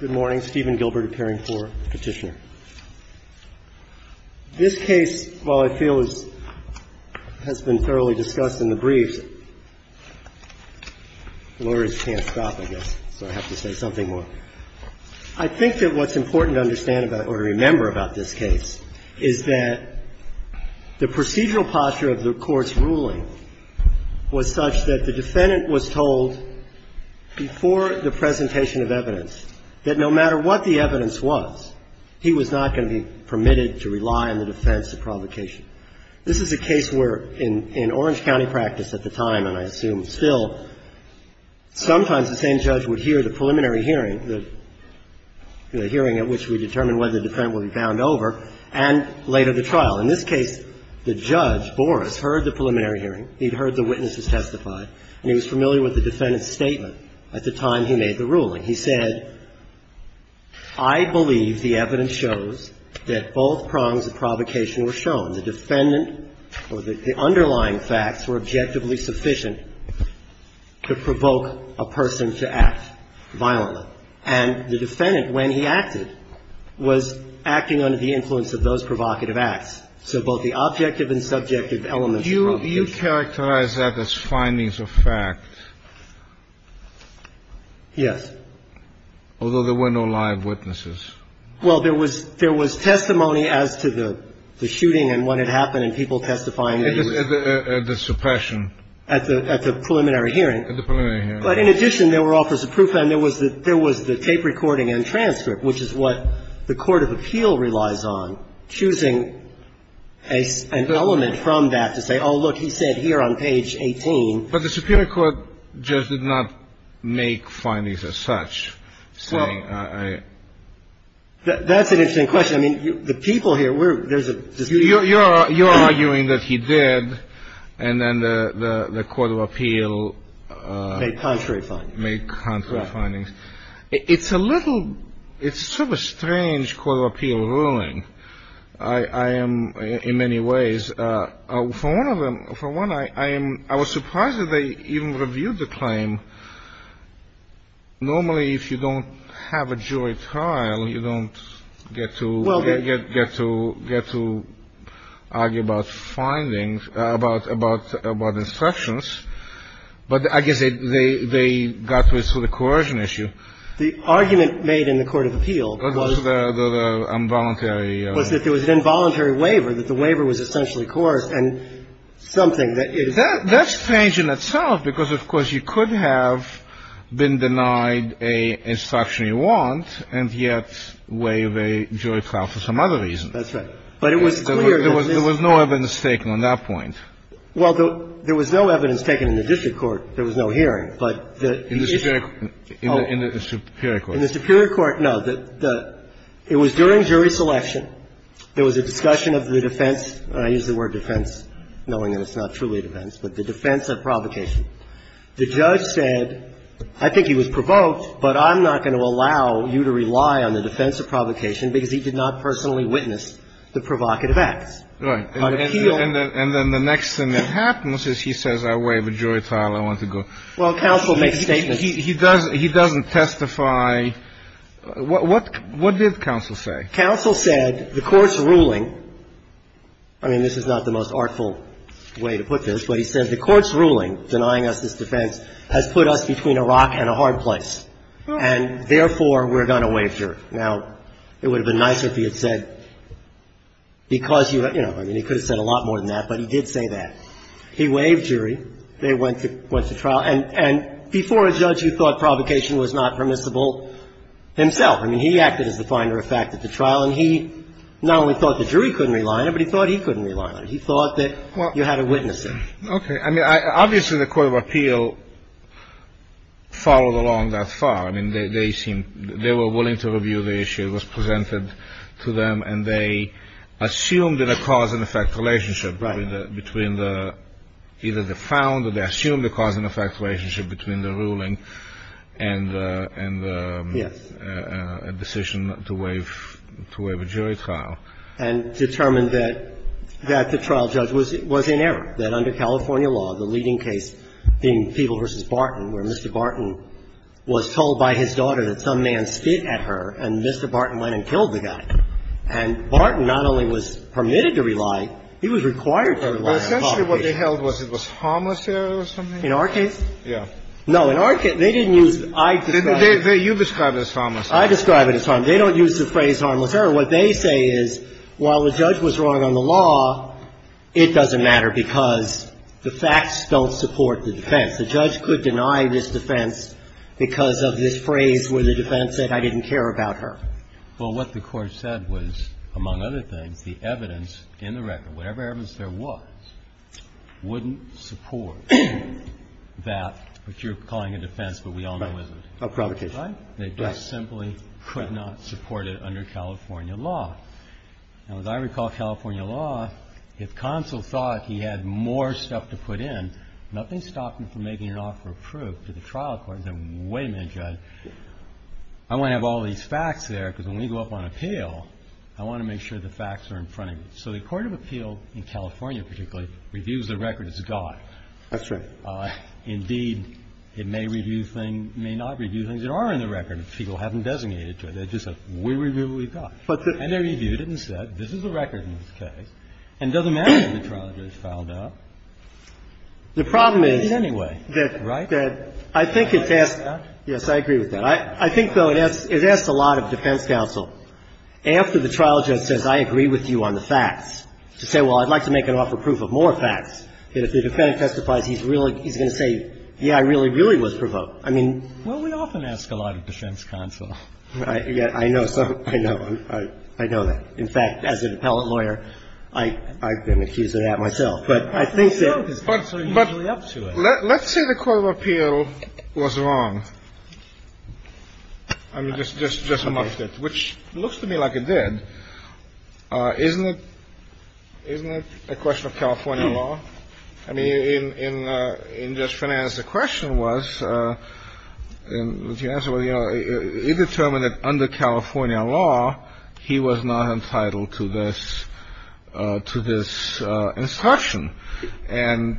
Good morning. Steven Gilbert, appearing for petitioner. This case, while I feel has been thoroughly discussed in the briefs, the lawyers can't stop, I guess, so I have to say something more. I think that what's important to understand about or remember about this case is that the procedural posture of the court's ruling was such that the defendant was told before the presentation of evidence that no matter what the evidence was, he was not going to be permitted to rely on the defense of provocation. This is a case where in Orange County practice at the time, and I assume still, sometimes the same judge would hear the preliminary hearing, the hearing at which we determine whether the defendant will be bound over, and later the trial. In this case, the judge, Boris, heard the preliminary hearing, he'd heard the witnesses testify, and he was familiar with the defendant's statement at the time he made the ruling. He said, I believe the evidence shows that both prongs of provocation were shown. The defendant or the underlying facts were objectively sufficient to provoke a person to act violently. And the defendant, when he acted, was acting under the influence of those provocative acts. So both the objective and subjective elements of provocation. Do you characterize that as findings of fact? Yes. Although there were no live witnesses. Well, there was testimony as to the shooting and what had happened and people testifying. At the suppression. At the preliminary hearing. At the preliminary hearing. But in addition, there were offers of proof, and there was the tape recording and transcript, which is what the court of appeal relies on, choosing an element from that to say, oh, look, he said here on page 18. But the superior court just did not make findings as such, saying I. That's an interesting question. I mean, the people here, there's a dispute. They make contrary findings. They make contrary findings. It's a little – it's sort of a strange court of appeal ruling. I am, in many ways, for one of them – for one, I am – I was surprised that they even reviewed the claim. Normally, if you don't have a jury trial, you don't get to – Get to argue about findings, about instructions. But I guess they got to a sort of coercion issue. The argument made in the court of appeal was – Was the involuntary – Was that there was an involuntary waiver, that the waiver was essentially coerced and something that – That's strange in itself because, of course, you could have been denied a instruction you want and yet waive a jury trial for some other reason. That's right. But it was clear that this – There was no evidence taken on that point. Well, there was no evidence taken in the district court. There was no hearing. But the issue – In the superior court. In the superior court, no. It was during jury selection. There was a discussion of the defense. I use the word defense knowing that it's not truly defense, but the defense of provocation. The judge said, I think he was provoked, but I'm not going to allow you to rely on the defense of provocation because he did not personally witness the provocative acts. Right. And then the next thing that happens is he says, I waive a jury trial. I want to go. Well, counsel makes statements. He doesn't testify. What did counsel say? Counsel said the Court's ruling – I mean, this is not the most artful way to put this, but he said the Court's ruling denying us this defense has put us between a rock and a hard place. And therefore, we're going to waive jury. Now, it would have been nicer if he had said because you – I mean, he could have said a lot more than that, but he did say that. He waived jury. They went to trial. And before a judge, you thought provocation was not permissible himself. I mean, he acted as the finder of fact at the trial, and he not only thought the jury couldn't rely on it, but he thought he couldn't rely on it. He thought that you had to witness it. Okay. I mean, obviously, the Court of Appeal followed along that far. I mean, they seemed – they were willing to review the issue. It was presented to them, and they assumed that a cause-and-effect relationship between the – either the founder – they assumed a cause-and-effect relationship between the ruling and the decision to waive a jury trial. And determined that the trial judge was in error, that under California law, the leading case being Peeble v. Barton, where Mr. Barton was told by his daughter that some man spit at her, and Mr. Barton went and killed the guy. And Barton not only was permitted to rely, he was required to rely on provocation. But essentially what they held was it was harmless error or something? In our case? Yeah. No. In our case, they didn't use – I describe it – You describe it as harmless. I describe it as harmless. They don't use the phrase harmless error. What they say is, while the judge was wrong on the law, it doesn't matter because the facts don't support the defense. The judge could deny this defense because of this phrase where the defense said, I didn't care about her. Well, what the Court said was, among other things, the evidence in the record, whatever evidence there was, wouldn't support that, which you're calling a defense, but we all know it isn't. A provocation. Right. So the defense simply could not support it under California law. Now, as I recall, California law, if Consul thought he had more stuff to put in, nothing stopped him from making an offer of proof to the trial court and said, wait a minute, Judge, I want to have all these facts there because when we go up on appeal, I want to make sure the facts are in front of me. So the court of appeal in California particularly reviews the record as God. That's right. Indeed, it may review things, may not review things that are in the record if people haven't designated to it. It's just a, we review what we've got. And they reviewed it and said, this is the record in this case. And it doesn't matter when the trial judge filed out. The problem is that anyway, that I think it's asked. Yes, I agree with that. I think, though, it asks a lot of defense counsel. After the trial judge says, I agree with you on the facts, to say, well, I'd like to make an offer of proof of more facts. If the defendant testifies, he's going to say, yeah, I really, really was provoked. I mean. Well, we often ask a lot of defense counsel. I know. I know. I know that. In fact, as an appellate lawyer, I've been accused of that myself. But I think that. But let's say the court of appeal was wrong. I mean, just a moment. Which looks to me like it did. Isn't it a question of California law? I mean, in just finance, the question was, and the answer was, you know, it determined that under California law, he was not entitled to this instruction. And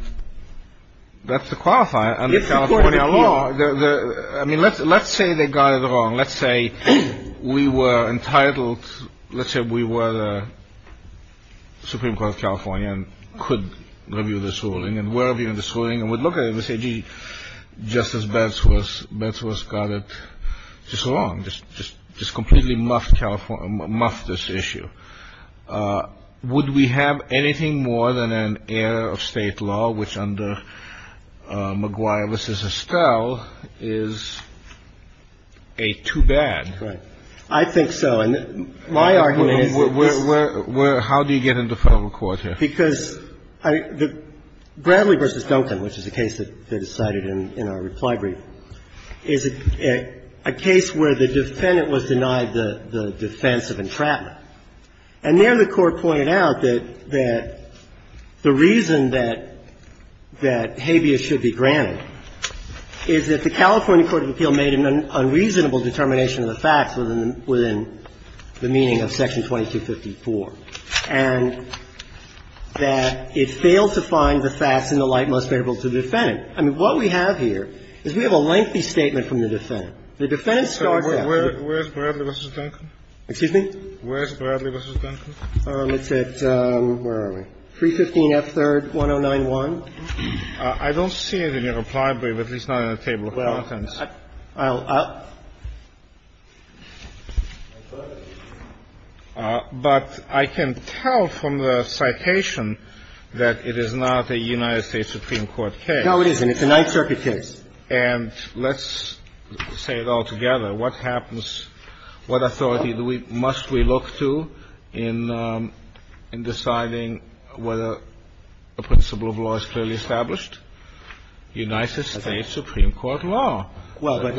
that's the qualifier. Under California law. I mean, let's say they got it wrong. Let's say we were entitled. Let's say we were the Supreme Court of California and could review this ruling and were reviewing this ruling and would look at it and say, gee, Justice Batsworth got it just wrong. Just completely muffed this issue. Would we have anything more than an error of state law, which under McGuire v. Estelle is too bad? Right. I think so. And my argument is that this is. How do you get into federal court here? Because the Bradley v. Duncan, which is a case that is cited in our reply brief, is a case where the defendant was denied the defense of entrapment. And there the Court pointed out that the reason that habeas should be granted is that the California court of appeal made an unreasonable determination of the facts within the meaning of section 2254, and that it failed to find the facts in the light most favorable to the defendant. I mean, what we have here is we have a lengthy statement from the defendant. The defendant starts out. Where is Bradley v. Duncan? Excuse me? Where is Bradley v. Duncan? It's at, where are we, 315F3rd 1091. I don't see it in your reply brief, at least not in the table of contents. Well, I'll. But I can tell from the citation that it is not a United States Supreme Court case. No, it isn't. It's a Ninth Circuit case. And let's say it all together. What happens? What authority do we, must we look to in deciding whether a principle of law is clearly established? United States Supreme Court law. Well, but.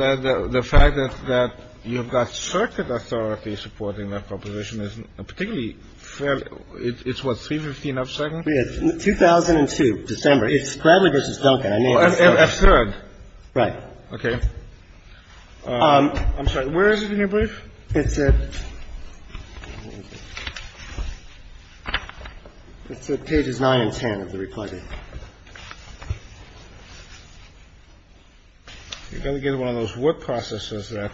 The fact that you've got circuit authority supporting that proposition is particularly fairly, it's what, 315F2nd? It's 2002, December. It's Bradley v. Duncan. A third. Right. Okay. I'm sorry. Where is it in your brief? It's at, it's at pages 9 and 10 of the reply brief. You're going to get one of those work processes that.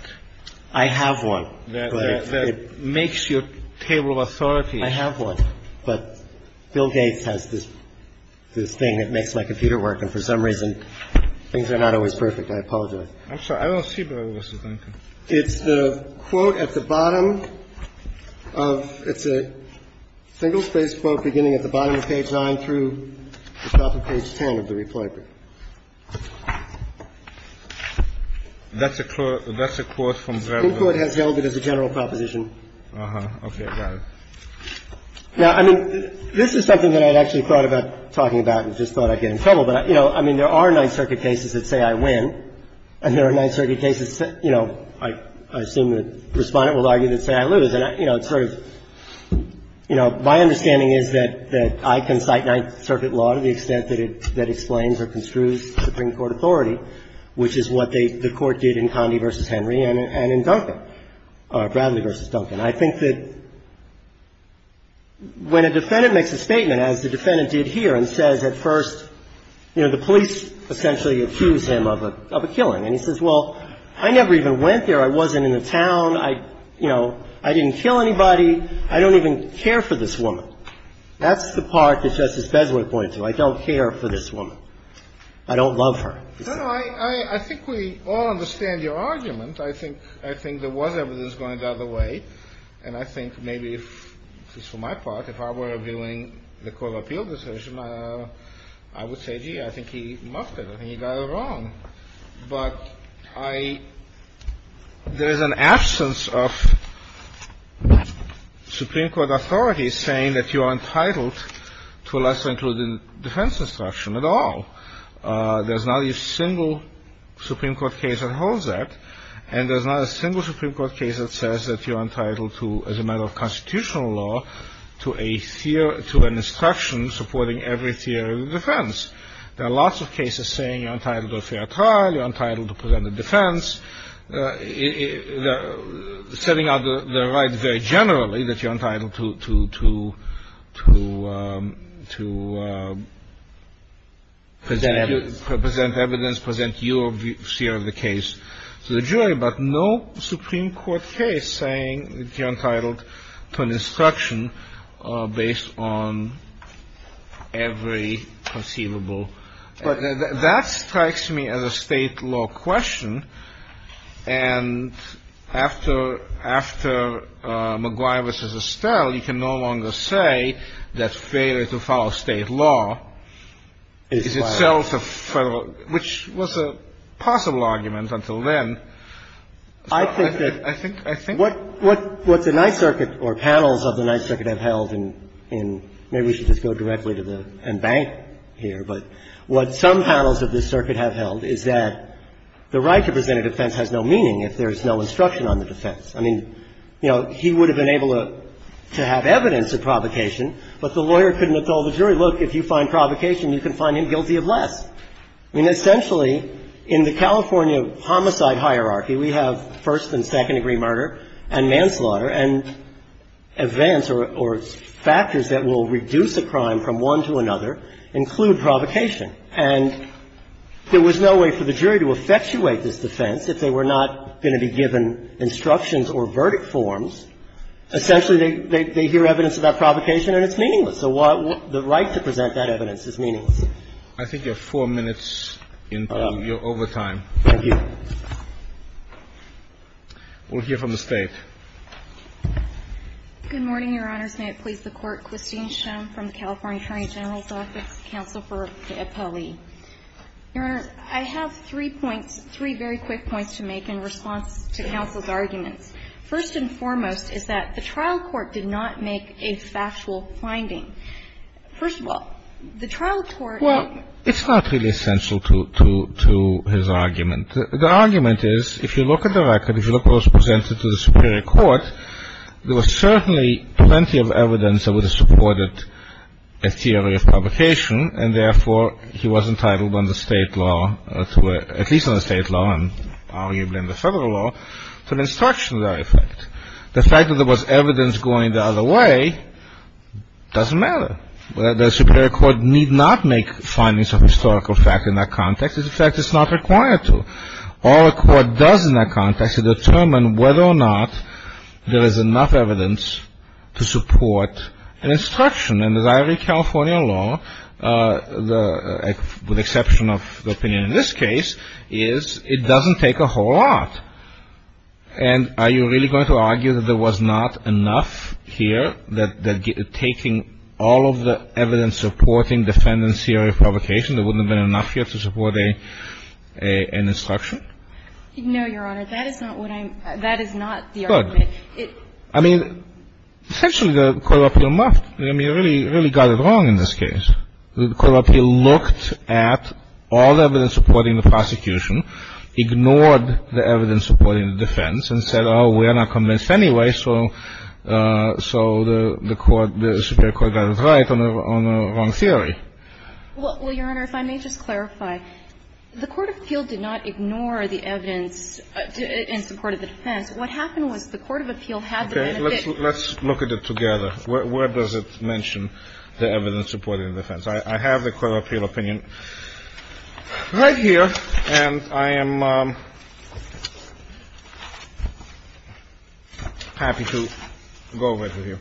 I have one. That makes your table of authorities. I have one. But Bill Gates has this, this thing that makes my computer work, and for some reason things are not always perfect. I apologize. I'm sorry. I don't see Bradley v. Duncan. It's the quote at the bottom of, it's a single-spaced quote beginning at the bottom of page 9 through the top of page 10 of the reply brief. That's a quote, that's a quote from Bradley v. Duncan. The Supreme Court has held it as a general proposition. Okay. Got it. Now, I mean, this is something that I had actually thought about talking about and just thought I'd get in trouble. But, you know, I mean, there are Ninth Circuit cases that say I win, and there are Ninth Circuit cases that, you know, I assume the Respondent will argue that say I lose. And, you know, it's sort of, you know, my understanding is that I can cite Ninth Circuit law to the extent that it explains or construes Supreme Court authority, which is what the Court did in Condi v. Henry and in Duncan, Bradley v. Duncan. And I think that when a defendant makes a statement, as the defendant did here, and says at first, you know, the police essentially accuse him of a killing. And he says, well, I never even went there. I wasn't in the town. I, you know, I didn't kill anybody. I don't even care for this woman. That's the part that Justice Besley pointed to. I don't care for this woman. I don't love her. No, no. I think we all understand your argument. I think there was evidence going the other way. And I think maybe if, just for my part, if I were reviewing the Court of Appeal decision, I would say, gee, I think he muffed it. I think he got it wrong. But I — there is an absence of Supreme Court authority saying that you are entitled to a lesser included defense instruction at all. There's not a single Supreme Court case that holds that. And there's not a single Supreme Court case that says that you're entitled to, as a matter of constitutional law, to an instruction supporting every theory of defense. There are lots of cases saying you're entitled to a fair trial, you're entitled to present a defense, setting out the right very generally that you're entitled to present evidence, present your view of the case to the jury. But no Supreme Court case saying that you're entitled to an instruction based on every conceivable. But that strikes me as a state law question. And after McGuire v. Estelle, you can no longer say that failure to follow state law is itself a federal — which was a possible argument until then. So I think — I think — What the Ninth Circuit or panels of the Ninth Circuit have held in — maybe we should just go directly to the — and bank here. But what some panels of this circuit have held is that the right to present a defense has no meaning if there is no instruction on the defense. I mean, you know, he would have been able to have evidence of provocation, but the lawyer couldn't have told the jury, look, if you find provocation, you can find him guilty of less. I mean, essentially, in the California homicide hierarchy, we have first and second-degree murder and manslaughter, and events or factors that will reduce a crime from one to another include provocation. And there was no way for the jury to effectuate this defense if they were not going to be given instructions or verdict forms. Essentially, they hear evidence about provocation and it's meaningless. So the right to present that evidence is meaningless. I think you're four minutes into your overtime. Thank you. We'll hear from the State. Good morning, Your Honor. May it please the Court. Christine Schoen from the California Attorney General's Office. Counsel for Apolli. Your Honor, I have three points, three very quick points to make in response to counsel's arguments. First and foremost is that the trial court did not make a factual finding. First of all, the trial court — Well, it's not really essential to his argument. The argument is, if you look at the record, if you look at what was presented to the superior court, there was certainly plenty of evidence that would have supported a theory of provocation, and therefore he was entitled under State law, at least under State law and arguably under Federal law, to an instruction of that effect. The fact that there was evidence going the other way doesn't matter. The superior court need not make findings of historical fact in that context. In fact, it's not required to. All a court does in that context is determine whether or not there is enough evidence to support an instruction. And as I read California law, with exception of the opinion in this case, is it doesn't take a whole lot. And are you really going to argue that there was not enough here, that taking all of the evidence supporting defendant's theory of provocation, there wouldn't have been enough here to support an instruction? No, Your Honor. That is not what I'm — that is not the argument. Good. I mean, essentially the court of appeal must — I mean, it really got it wrong in this case. The court of appeal looked at all the evidence supporting the prosecution, ignored the evidence supporting the defense, and said, oh, we're not convinced anyway, so the court — the superior court got it right on the wrong theory. Well, Your Honor, if I may just clarify. The court of appeal did not ignore the evidence in support of the defense. What happened was the court of appeal had the benefit — Okay. Let's look at it together. Where does it mention the evidence supporting the defense? I have the court of appeal opinion right here. And I am happy to go over it with you.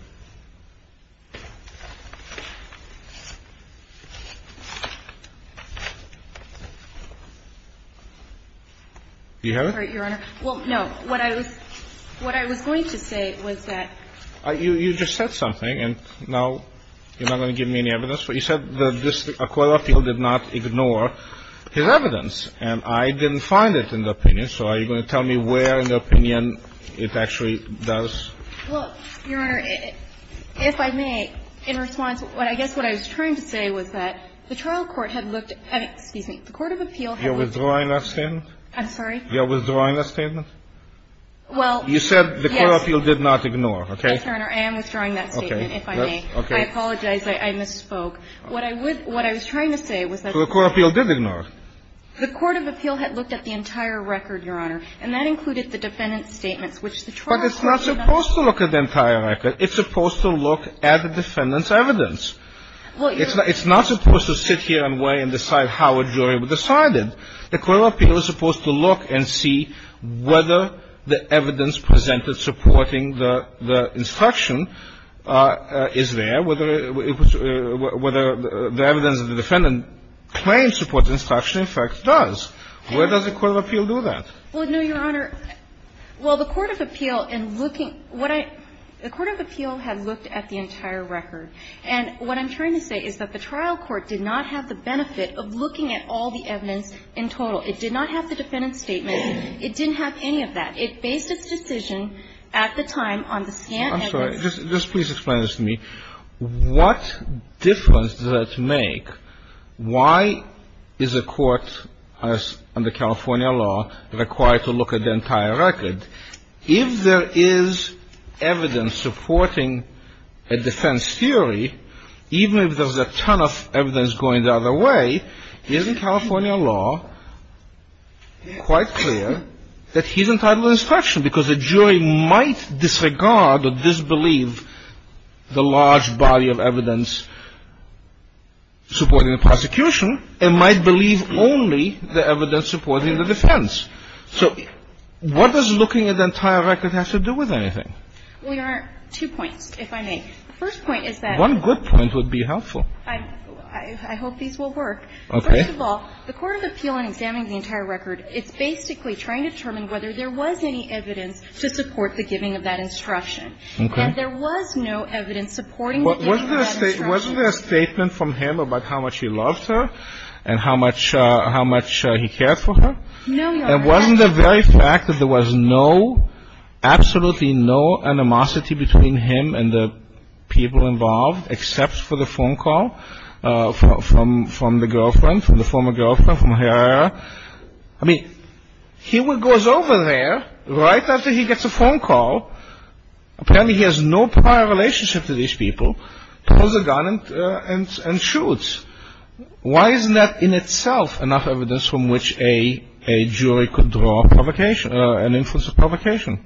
Do you have it? Your Honor, well, no. What I was — what I was going to say was that — You just said something, and now you're not going to give me any evidence. You said the court of appeal did not ignore his evidence. And I didn't find it in the opinion, so are you going to tell me where in the opinion it actually does? Well, Your Honor, if I may, in response, I guess what I was trying to say was that the trial court had looked — excuse me, the court of appeal had looked — You're withdrawing that statement? I'm sorry? You're withdrawing that statement? Well, yes. You said the court of appeal did not ignore. Okay. Yes, Your Honor, I am withdrawing that statement, if I may. Okay. I apologize. I misspoke. What I would — what I was trying to say was that — So the court of appeal did ignore. The court of appeal had looked at the entire record, Your Honor, and that included the defendant's statements, which the trial court — But it's not supposed to look at the entire record. It's supposed to look at the defendant's evidence. Well, Your Honor — It's not supposed to sit here and wait and decide how a jury would decide it. The court of appeal is supposed to look and see whether the evidence presented supporting the instruction is there, whether it was — whether the evidence of the defendant claims to support the instruction, in fact, does. Where does the court of appeal do that? Well, no, Your Honor. Well, the court of appeal, in looking — what I — the court of appeal had looked at the entire record. And what I'm trying to say is that the trial court did not have the benefit of looking at all the evidence in total. It did not have the defendant's statement. It didn't have any of that. It based its decision at the time on the scant evidence — I'm sorry. Just please explain this to me. What difference does that make? Why is a court, as under California law, required to look at the entire record? If there is evidence supporting a defense theory, even if there's a ton of evidence going the other way, isn't California law quite clear that he's entitled to instruction? Because the jury might disregard or disbelieve the large body of evidence supporting the prosecution and might believe only the evidence supporting the defense. So what does looking at the entire record have to do with anything? Well, Your Honor, two points, if I may. The first point is that — One good point would be helpful. I hope these will work. Okay. First of all, the court of appeal in examining the entire record, it's basically trying to determine whether there was any evidence to support the giving of that instruction. Okay. And there was no evidence supporting the giving of that instruction. Wasn't there a statement from him about how much he loved her and how much he cared for her? No, Your Honor. And wasn't the very fact that there was no, absolutely no animosity between him and the people involved except for the phone call from the girlfriend, from the former girlfriend, from her? I mean, he goes over there right after he gets a phone call. Apparently he has no prior relationship to these people, pulls a gun and shoots. Why isn't that in itself enough evidence from which a jury could draw an influence of provocation?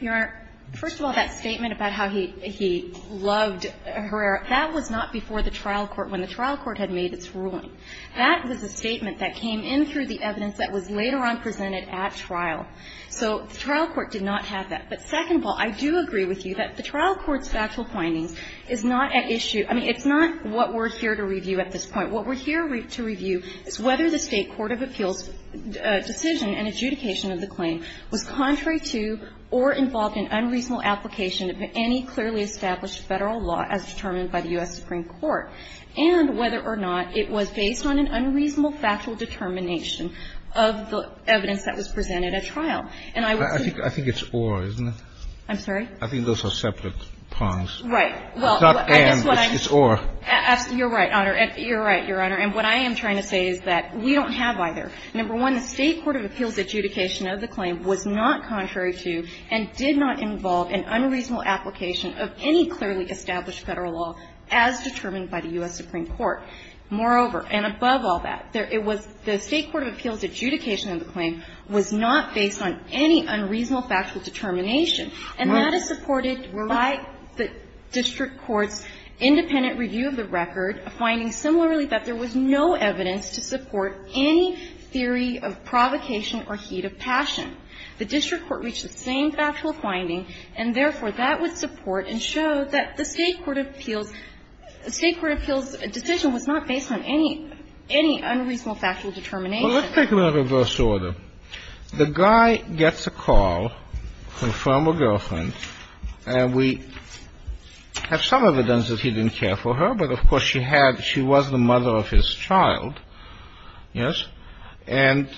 Your Honor, first of all, that statement about how he loved Herrera, that was not before the trial court, when the trial court had made its ruling. That was a statement that came in through the evidence that was later on presented at trial. So the trial court did not have that. But second of all, I do agree with you that the trial court's factual findings is not at issue — I mean, it's not what we're here to review at this point. What we're here to review is whether the State court of appeals' decision and adjudication of the claim was contrary to or involved in unreasonable application of any clearly established Federal law as determined by the U.S. Supreme Court, and whether or not it was based on an unreasonable factual determination of the evidence that was presented at trial. And I would say — I think it's or, isn't it? I'm sorry? I think those are separate prongs. Right. Well, I guess what I'm — It's not and. It's or. You're right, Your Honor. And what I am trying to say is that we don't have either. Number one, the State court of appeals' adjudication of the claim was not contrary to and did not involve an unreasonable application of any clearly established Federal law as determined by the U.S. Supreme Court. Moreover, and above all that, it was — the State court of appeals' adjudication of the claim was not based on any unreasonable factual determination. And that is supported by the district court's independent review of the record, a finding similarly that there was no evidence to support any theory of provocation or heat of passion. The district court reached the same factual finding, and therefore, that would support and show that the State court of appeals' — the State court of appeals' decision was not based on any unreasonable factual determination. Well, let's take it in reverse order. The guy gets a call from a former girlfriend, and we have some evidence that he didn't care for her, but, of course, she had — she was the mother of his child. Yes? And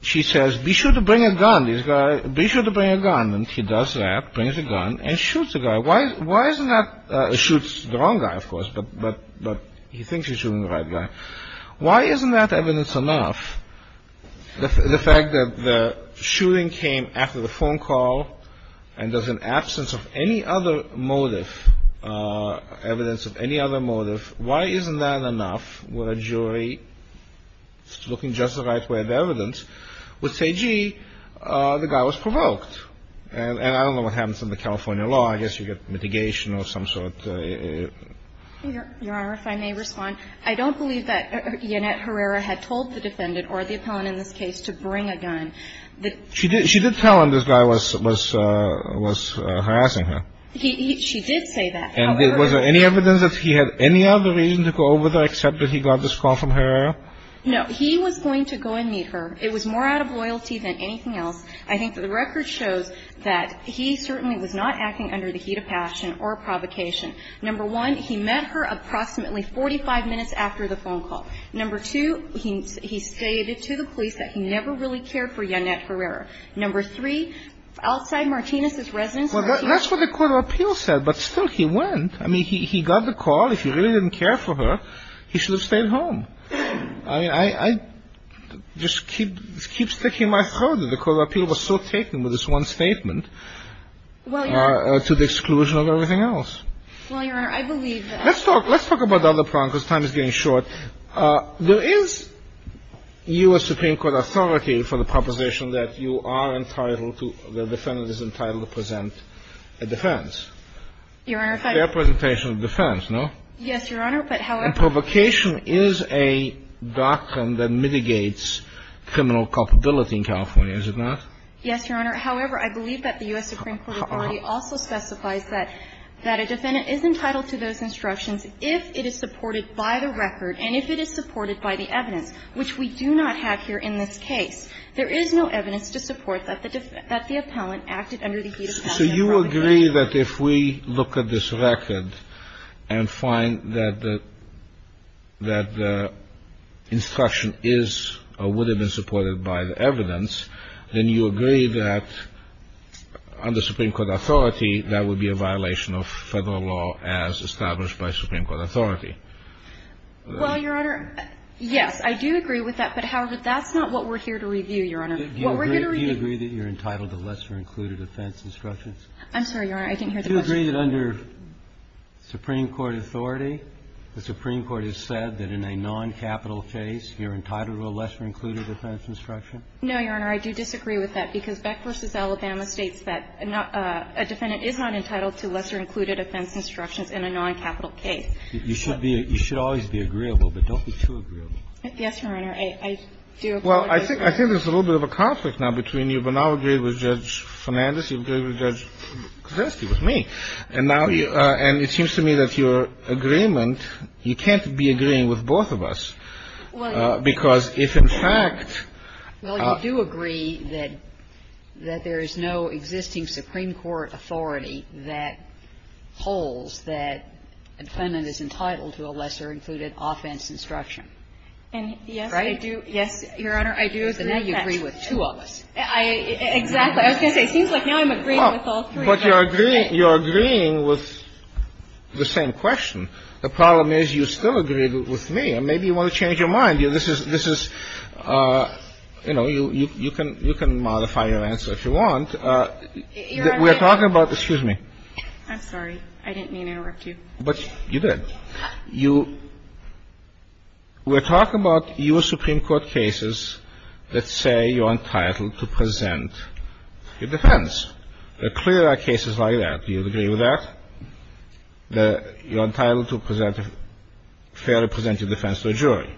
she says, be sure to bring a gun, this guy. Be sure to bring a gun. And he does that, brings a gun, and shoots the guy. Why isn't that — shoots the wrong guy, of course, but he thinks he's shooting the right guy. Why isn't that evidence enough? The fact that the shooting came after the phone call, and there's an absence of any other motive, evidence of any other motive, why isn't that enough where a jury, looking just the right way at the evidence, would say, gee, the guy was provoked? And I don't know what happens in the California law. I guess you get mitigation of some sort. Your Honor, if I may respond, I don't believe that Yanet Herrera had told the defendant or the appellant in this case to bring a gun. She did tell him this guy was harassing her. She did say that, however — And was there any evidence that he had any other reason to go over there except that he got this call from Herrera? No. He was going to go and meet her. It was more out of loyalty than anything else. I think that the record shows that he certainly was not acting under the heat of passion or provocation. Number one, he met her approximately 45 minutes after the phone call. Number two, he stated to the police that he never really cared for Yanet Herrera. Number three, outside Martinez's residence — Well, that's what the court of appeals said, but still he went. I mean, he got the call. If he really didn't care for her, he should have stayed home. I mean, I just keep sticking my throat in. The court of appeals was so taken with this one statement to the exclusion of everything else. Well, Your Honor, I believe that — Let's talk about the other problem because time is getting short. There is U.S. Supreme Court authority for the proposition that you are entitled to — the defendant is entitled to present a defense. Your Honor, if I could — Fair presentation of defense, no? Yes, Your Honor, but however — And provocation is a doctrine that mitigates criminal culpability in California, is it not? Yes, Your Honor. However, I believe that the U.S. Supreme Court authority also specifies that a defendant is entitled to those instructions if it is supported by the record and if it is supported by the evidence, which we do not have here in this case. There is no evidence to support that the defendant — that the appellant acted under the heat of — So you agree that if we look at this record and find that the — that the instruction is or would have been supported by the evidence, then you agree that under Supreme Court authority, that would be a violation of Federal law as established by Supreme Court authority? Well, Your Honor, yes, I do agree with that. But, however, that's not what we're here to review, Your Honor. What we're here to review — Do you agree that you're entitled to lesser-included defense instructions? I'm sorry, Your Honor. I didn't hear the question. Do you agree that under Supreme Court authority, the Supreme Court has said that in a noncapital case, you're entitled to a lesser-included defense instruction? No, Your Honor. Your Honor, I do disagree with that, because Beck v. Alabama states that a defendant is not entitled to lesser-included offense instructions in a noncapital case. You should be — you should always be agreeable, but don't be too agreeable. Yes, Your Honor. I do agree with that. Well, I think there's a little bit of a conflict now between you. You've now agreed with Judge Fernandez. You've agreed with Judge Krasinski, with me. And now you — and it seems to me that your agreement — you can't be agreeing with both of us, because if, in fact — Well, you do agree that there is no existing Supreme Court authority that holds that a defendant is entitled to a lesser-included offense instruction. And, yes, I do — Right? Yes, Your Honor, I do agree with that. But now you agree with two of us. Exactly. I was going to say, it seems like now I'm agreeing with all three. But you're agreeing with the same question. The problem is you still agree with me. And maybe you want to change your mind. This is — this is — you know, you can modify your answer if you want. Your Honor, I — We're talking about — excuse me. I'm sorry. I didn't mean to interrupt you. But you did. You — we're talking about U.S. Supreme Court cases that say you're entitled to present your defense. There clearly are cases like that. Do you agree with that, that you're entitled to present a fairly presented defense to a jury?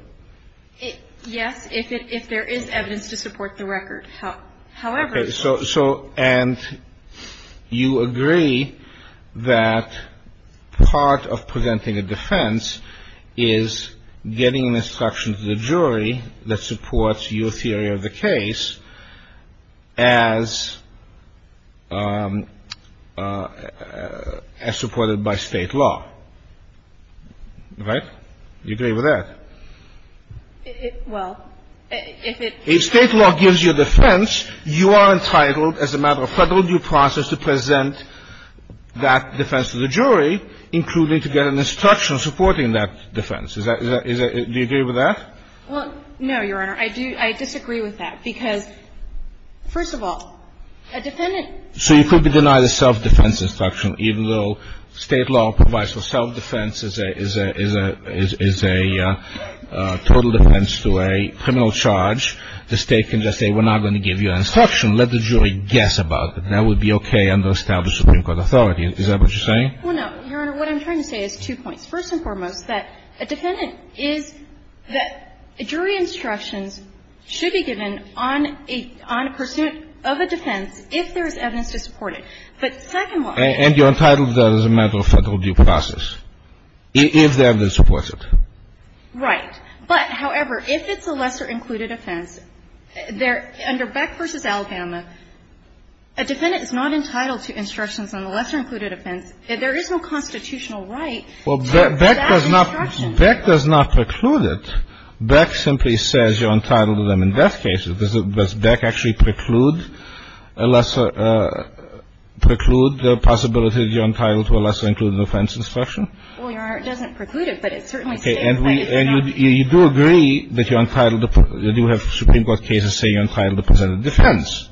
Yes, if it — if there is evidence to support the record. However — Okay. So — and you agree that part of presenting a defense is getting an instruction to the jury that supports your theory of the case as — as supported by state law. Right? Do you agree with that? Well, if it — If state law gives you a defense, you are entitled, as a matter of Federal due process, to present that defense to the jury, including to get an instruction supporting that defense. Is that — do you agree with that? Well, no, Your Honor. I do — I disagree with that because, first of all, a defendant — So you could deny the self-defense instruction, even though state law provides for self-defense as a — as a — as a total defense to a criminal charge. The State can just say, we're not going to give you an instruction. Let the jury guess about that. That would be okay under established Supreme Court authority. Is that what you're saying? Well, no, Your Honor. What I'm trying to say is two points. First and foremost, that a defendant is — that jury instructions should be given on a — on a pursuit of a defense if there is evidence to support it. But second one — And you're entitled to that as a matter of Federal due process if the evidence supports it. Right. But, however, if it's a lesser-included offense, there — under Beck v. Alabama, a defendant is not entitled to instructions on the lesser-included offense. There is no constitutional right to that instruction. Well, Beck does not — Beck does not preclude it. Beck simply says you're entitled to them in death cases. Does Beck actually preclude a lesser — preclude the possibility that you're entitled to a lesser-included offense instruction? Well, Your Honor, it doesn't preclude it, but it certainly states that it's not — Okay. And you do agree that you're entitled — that you have Supreme Court cases saying you're entitled to present a defense.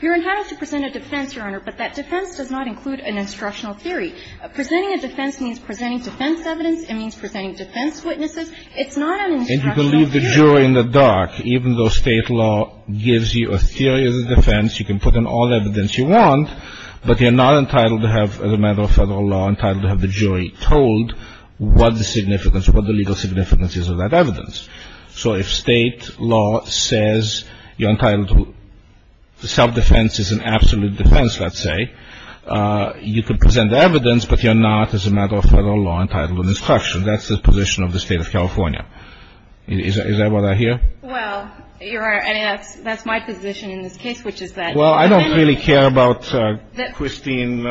You're entitled to present a defense, Your Honor, but that defense does not include an instructional theory. Presenting a defense means presenting defense evidence. It means presenting defense witnesses. It's not an instructional theory. You can leave the jury in the dark. Even though state law gives you a theory of the defense, you can put in all the evidence you want, but you're not entitled to have, as a matter of federal law, entitled to have the jury told what the significance — what the legal significance is of that evidence. So if state law says you're entitled to — self-defense is an absolute defense, let's say, you could present evidence, but you're not, as a matter of federal law, entitled to an instruction. That's the position of the State of California. Is that what I hear? Well, Your Honor, that's my position in this case, which is that — Well, I don't really care about Christine —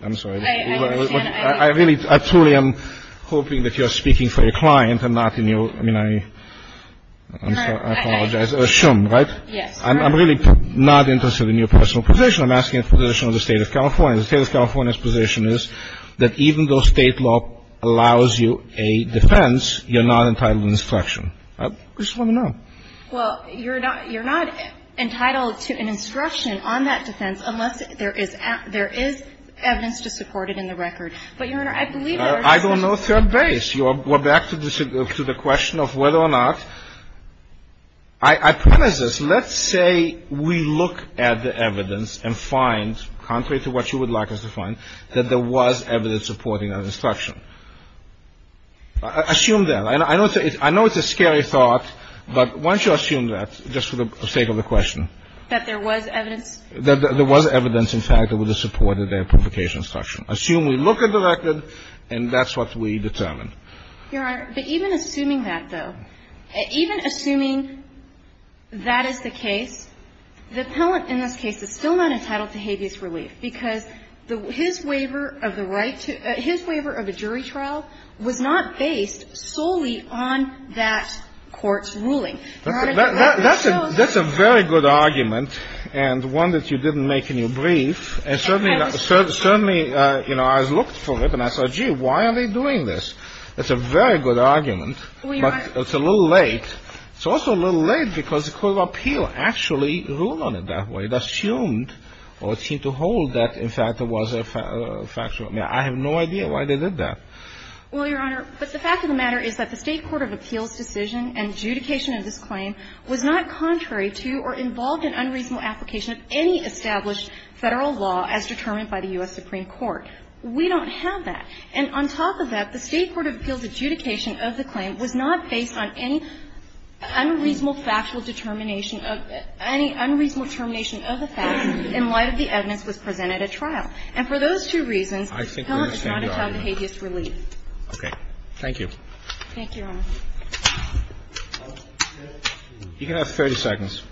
I'm sorry. I understand. I really — I truly am hoping that you're speaking for your client and not in your — I mean, I — I apologize. I assume, right? Yes. I'm really not interested in your personal position. I'm asking for the position of the State of California. The State of California's position is that even though state law allows you a defense, you're not entitled to an instruction. I just want to know. Well, you're not — you're not entitled to an instruction on that defense unless there is — there is evidence to support it in the record. But, Your Honor, I believe there is a — I don't know third base. You are — we're back to the question of whether or not — I promise this. Let's say we look at the evidence and find, contrary to what you would like us to find, that there was evidence supporting that instruction. Assume that. I know it's a scary thought, but why don't you assume that, just for the sake of the question? That there was evidence? That there was evidence, in fact, that would have supported that publication instruction. Assume we look at the record, and that's what we determine. Your Honor, but even assuming that, though, even assuming that is the case, the appellant in this case is still not entitled to habeas relief because the — his waiver of the right to — his waiver of a jury trial was not based solely on that court's ruling. That's a — that's a very good argument, and one that you didn't make in your brief. And certainly — certainly, you know, I looked for it, and I said, gee, why are they doing this? It's a very good argument, but it's a little late. It's also a little late because the Court of Appeal actually ruled on it that way. It assumed, or it seemed to hold, that, in fact, there was a factual — I have no idea why they did that. Well, Your Honor, but the fact of the matter is that the State Court of Appeal's decision and adjudication of this claim was not contrary to or involved in unreasonable application of any established Federal law as determined by the U.S. Supreme Court. We don't have that. And on top of that, the State Court of Appeal's adjudication of the claim was not based on any unreasonable factual determination of — any unreasonable termination of the fact in light of the evidence was presented at trial. And for those two reasons, the defendant is not entitled to habeas relief. Roberts. Okay. Thank you. Thank you, Your Honor. You can have 30 seconds.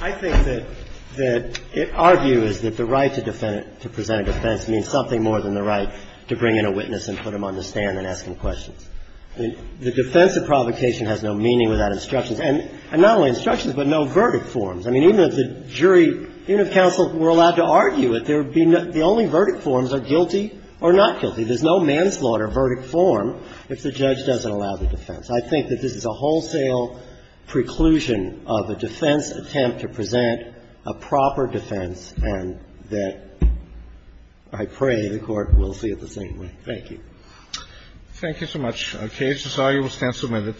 I think that — that our view is that the right to defend — to present a defense means something more than the right to bring in a witness and put him on the stand and ask him questions. I mean, the defense of provocation has no meaning without instructions. And not only instructions, but no verdict forms. I mean, even if the jury — even if counsel were allowed to argue it, there would be no — the only verdict forms are guilty or not guilty. There's no manslaughter verdict form if the judge doesn't allow the defense. I think that this is a wholesale preclusion of a defense attempt to present a proper defense, and that I pray the Court will see it the same way. Thank you. Thank you so much. Okay. This argument stands submitted.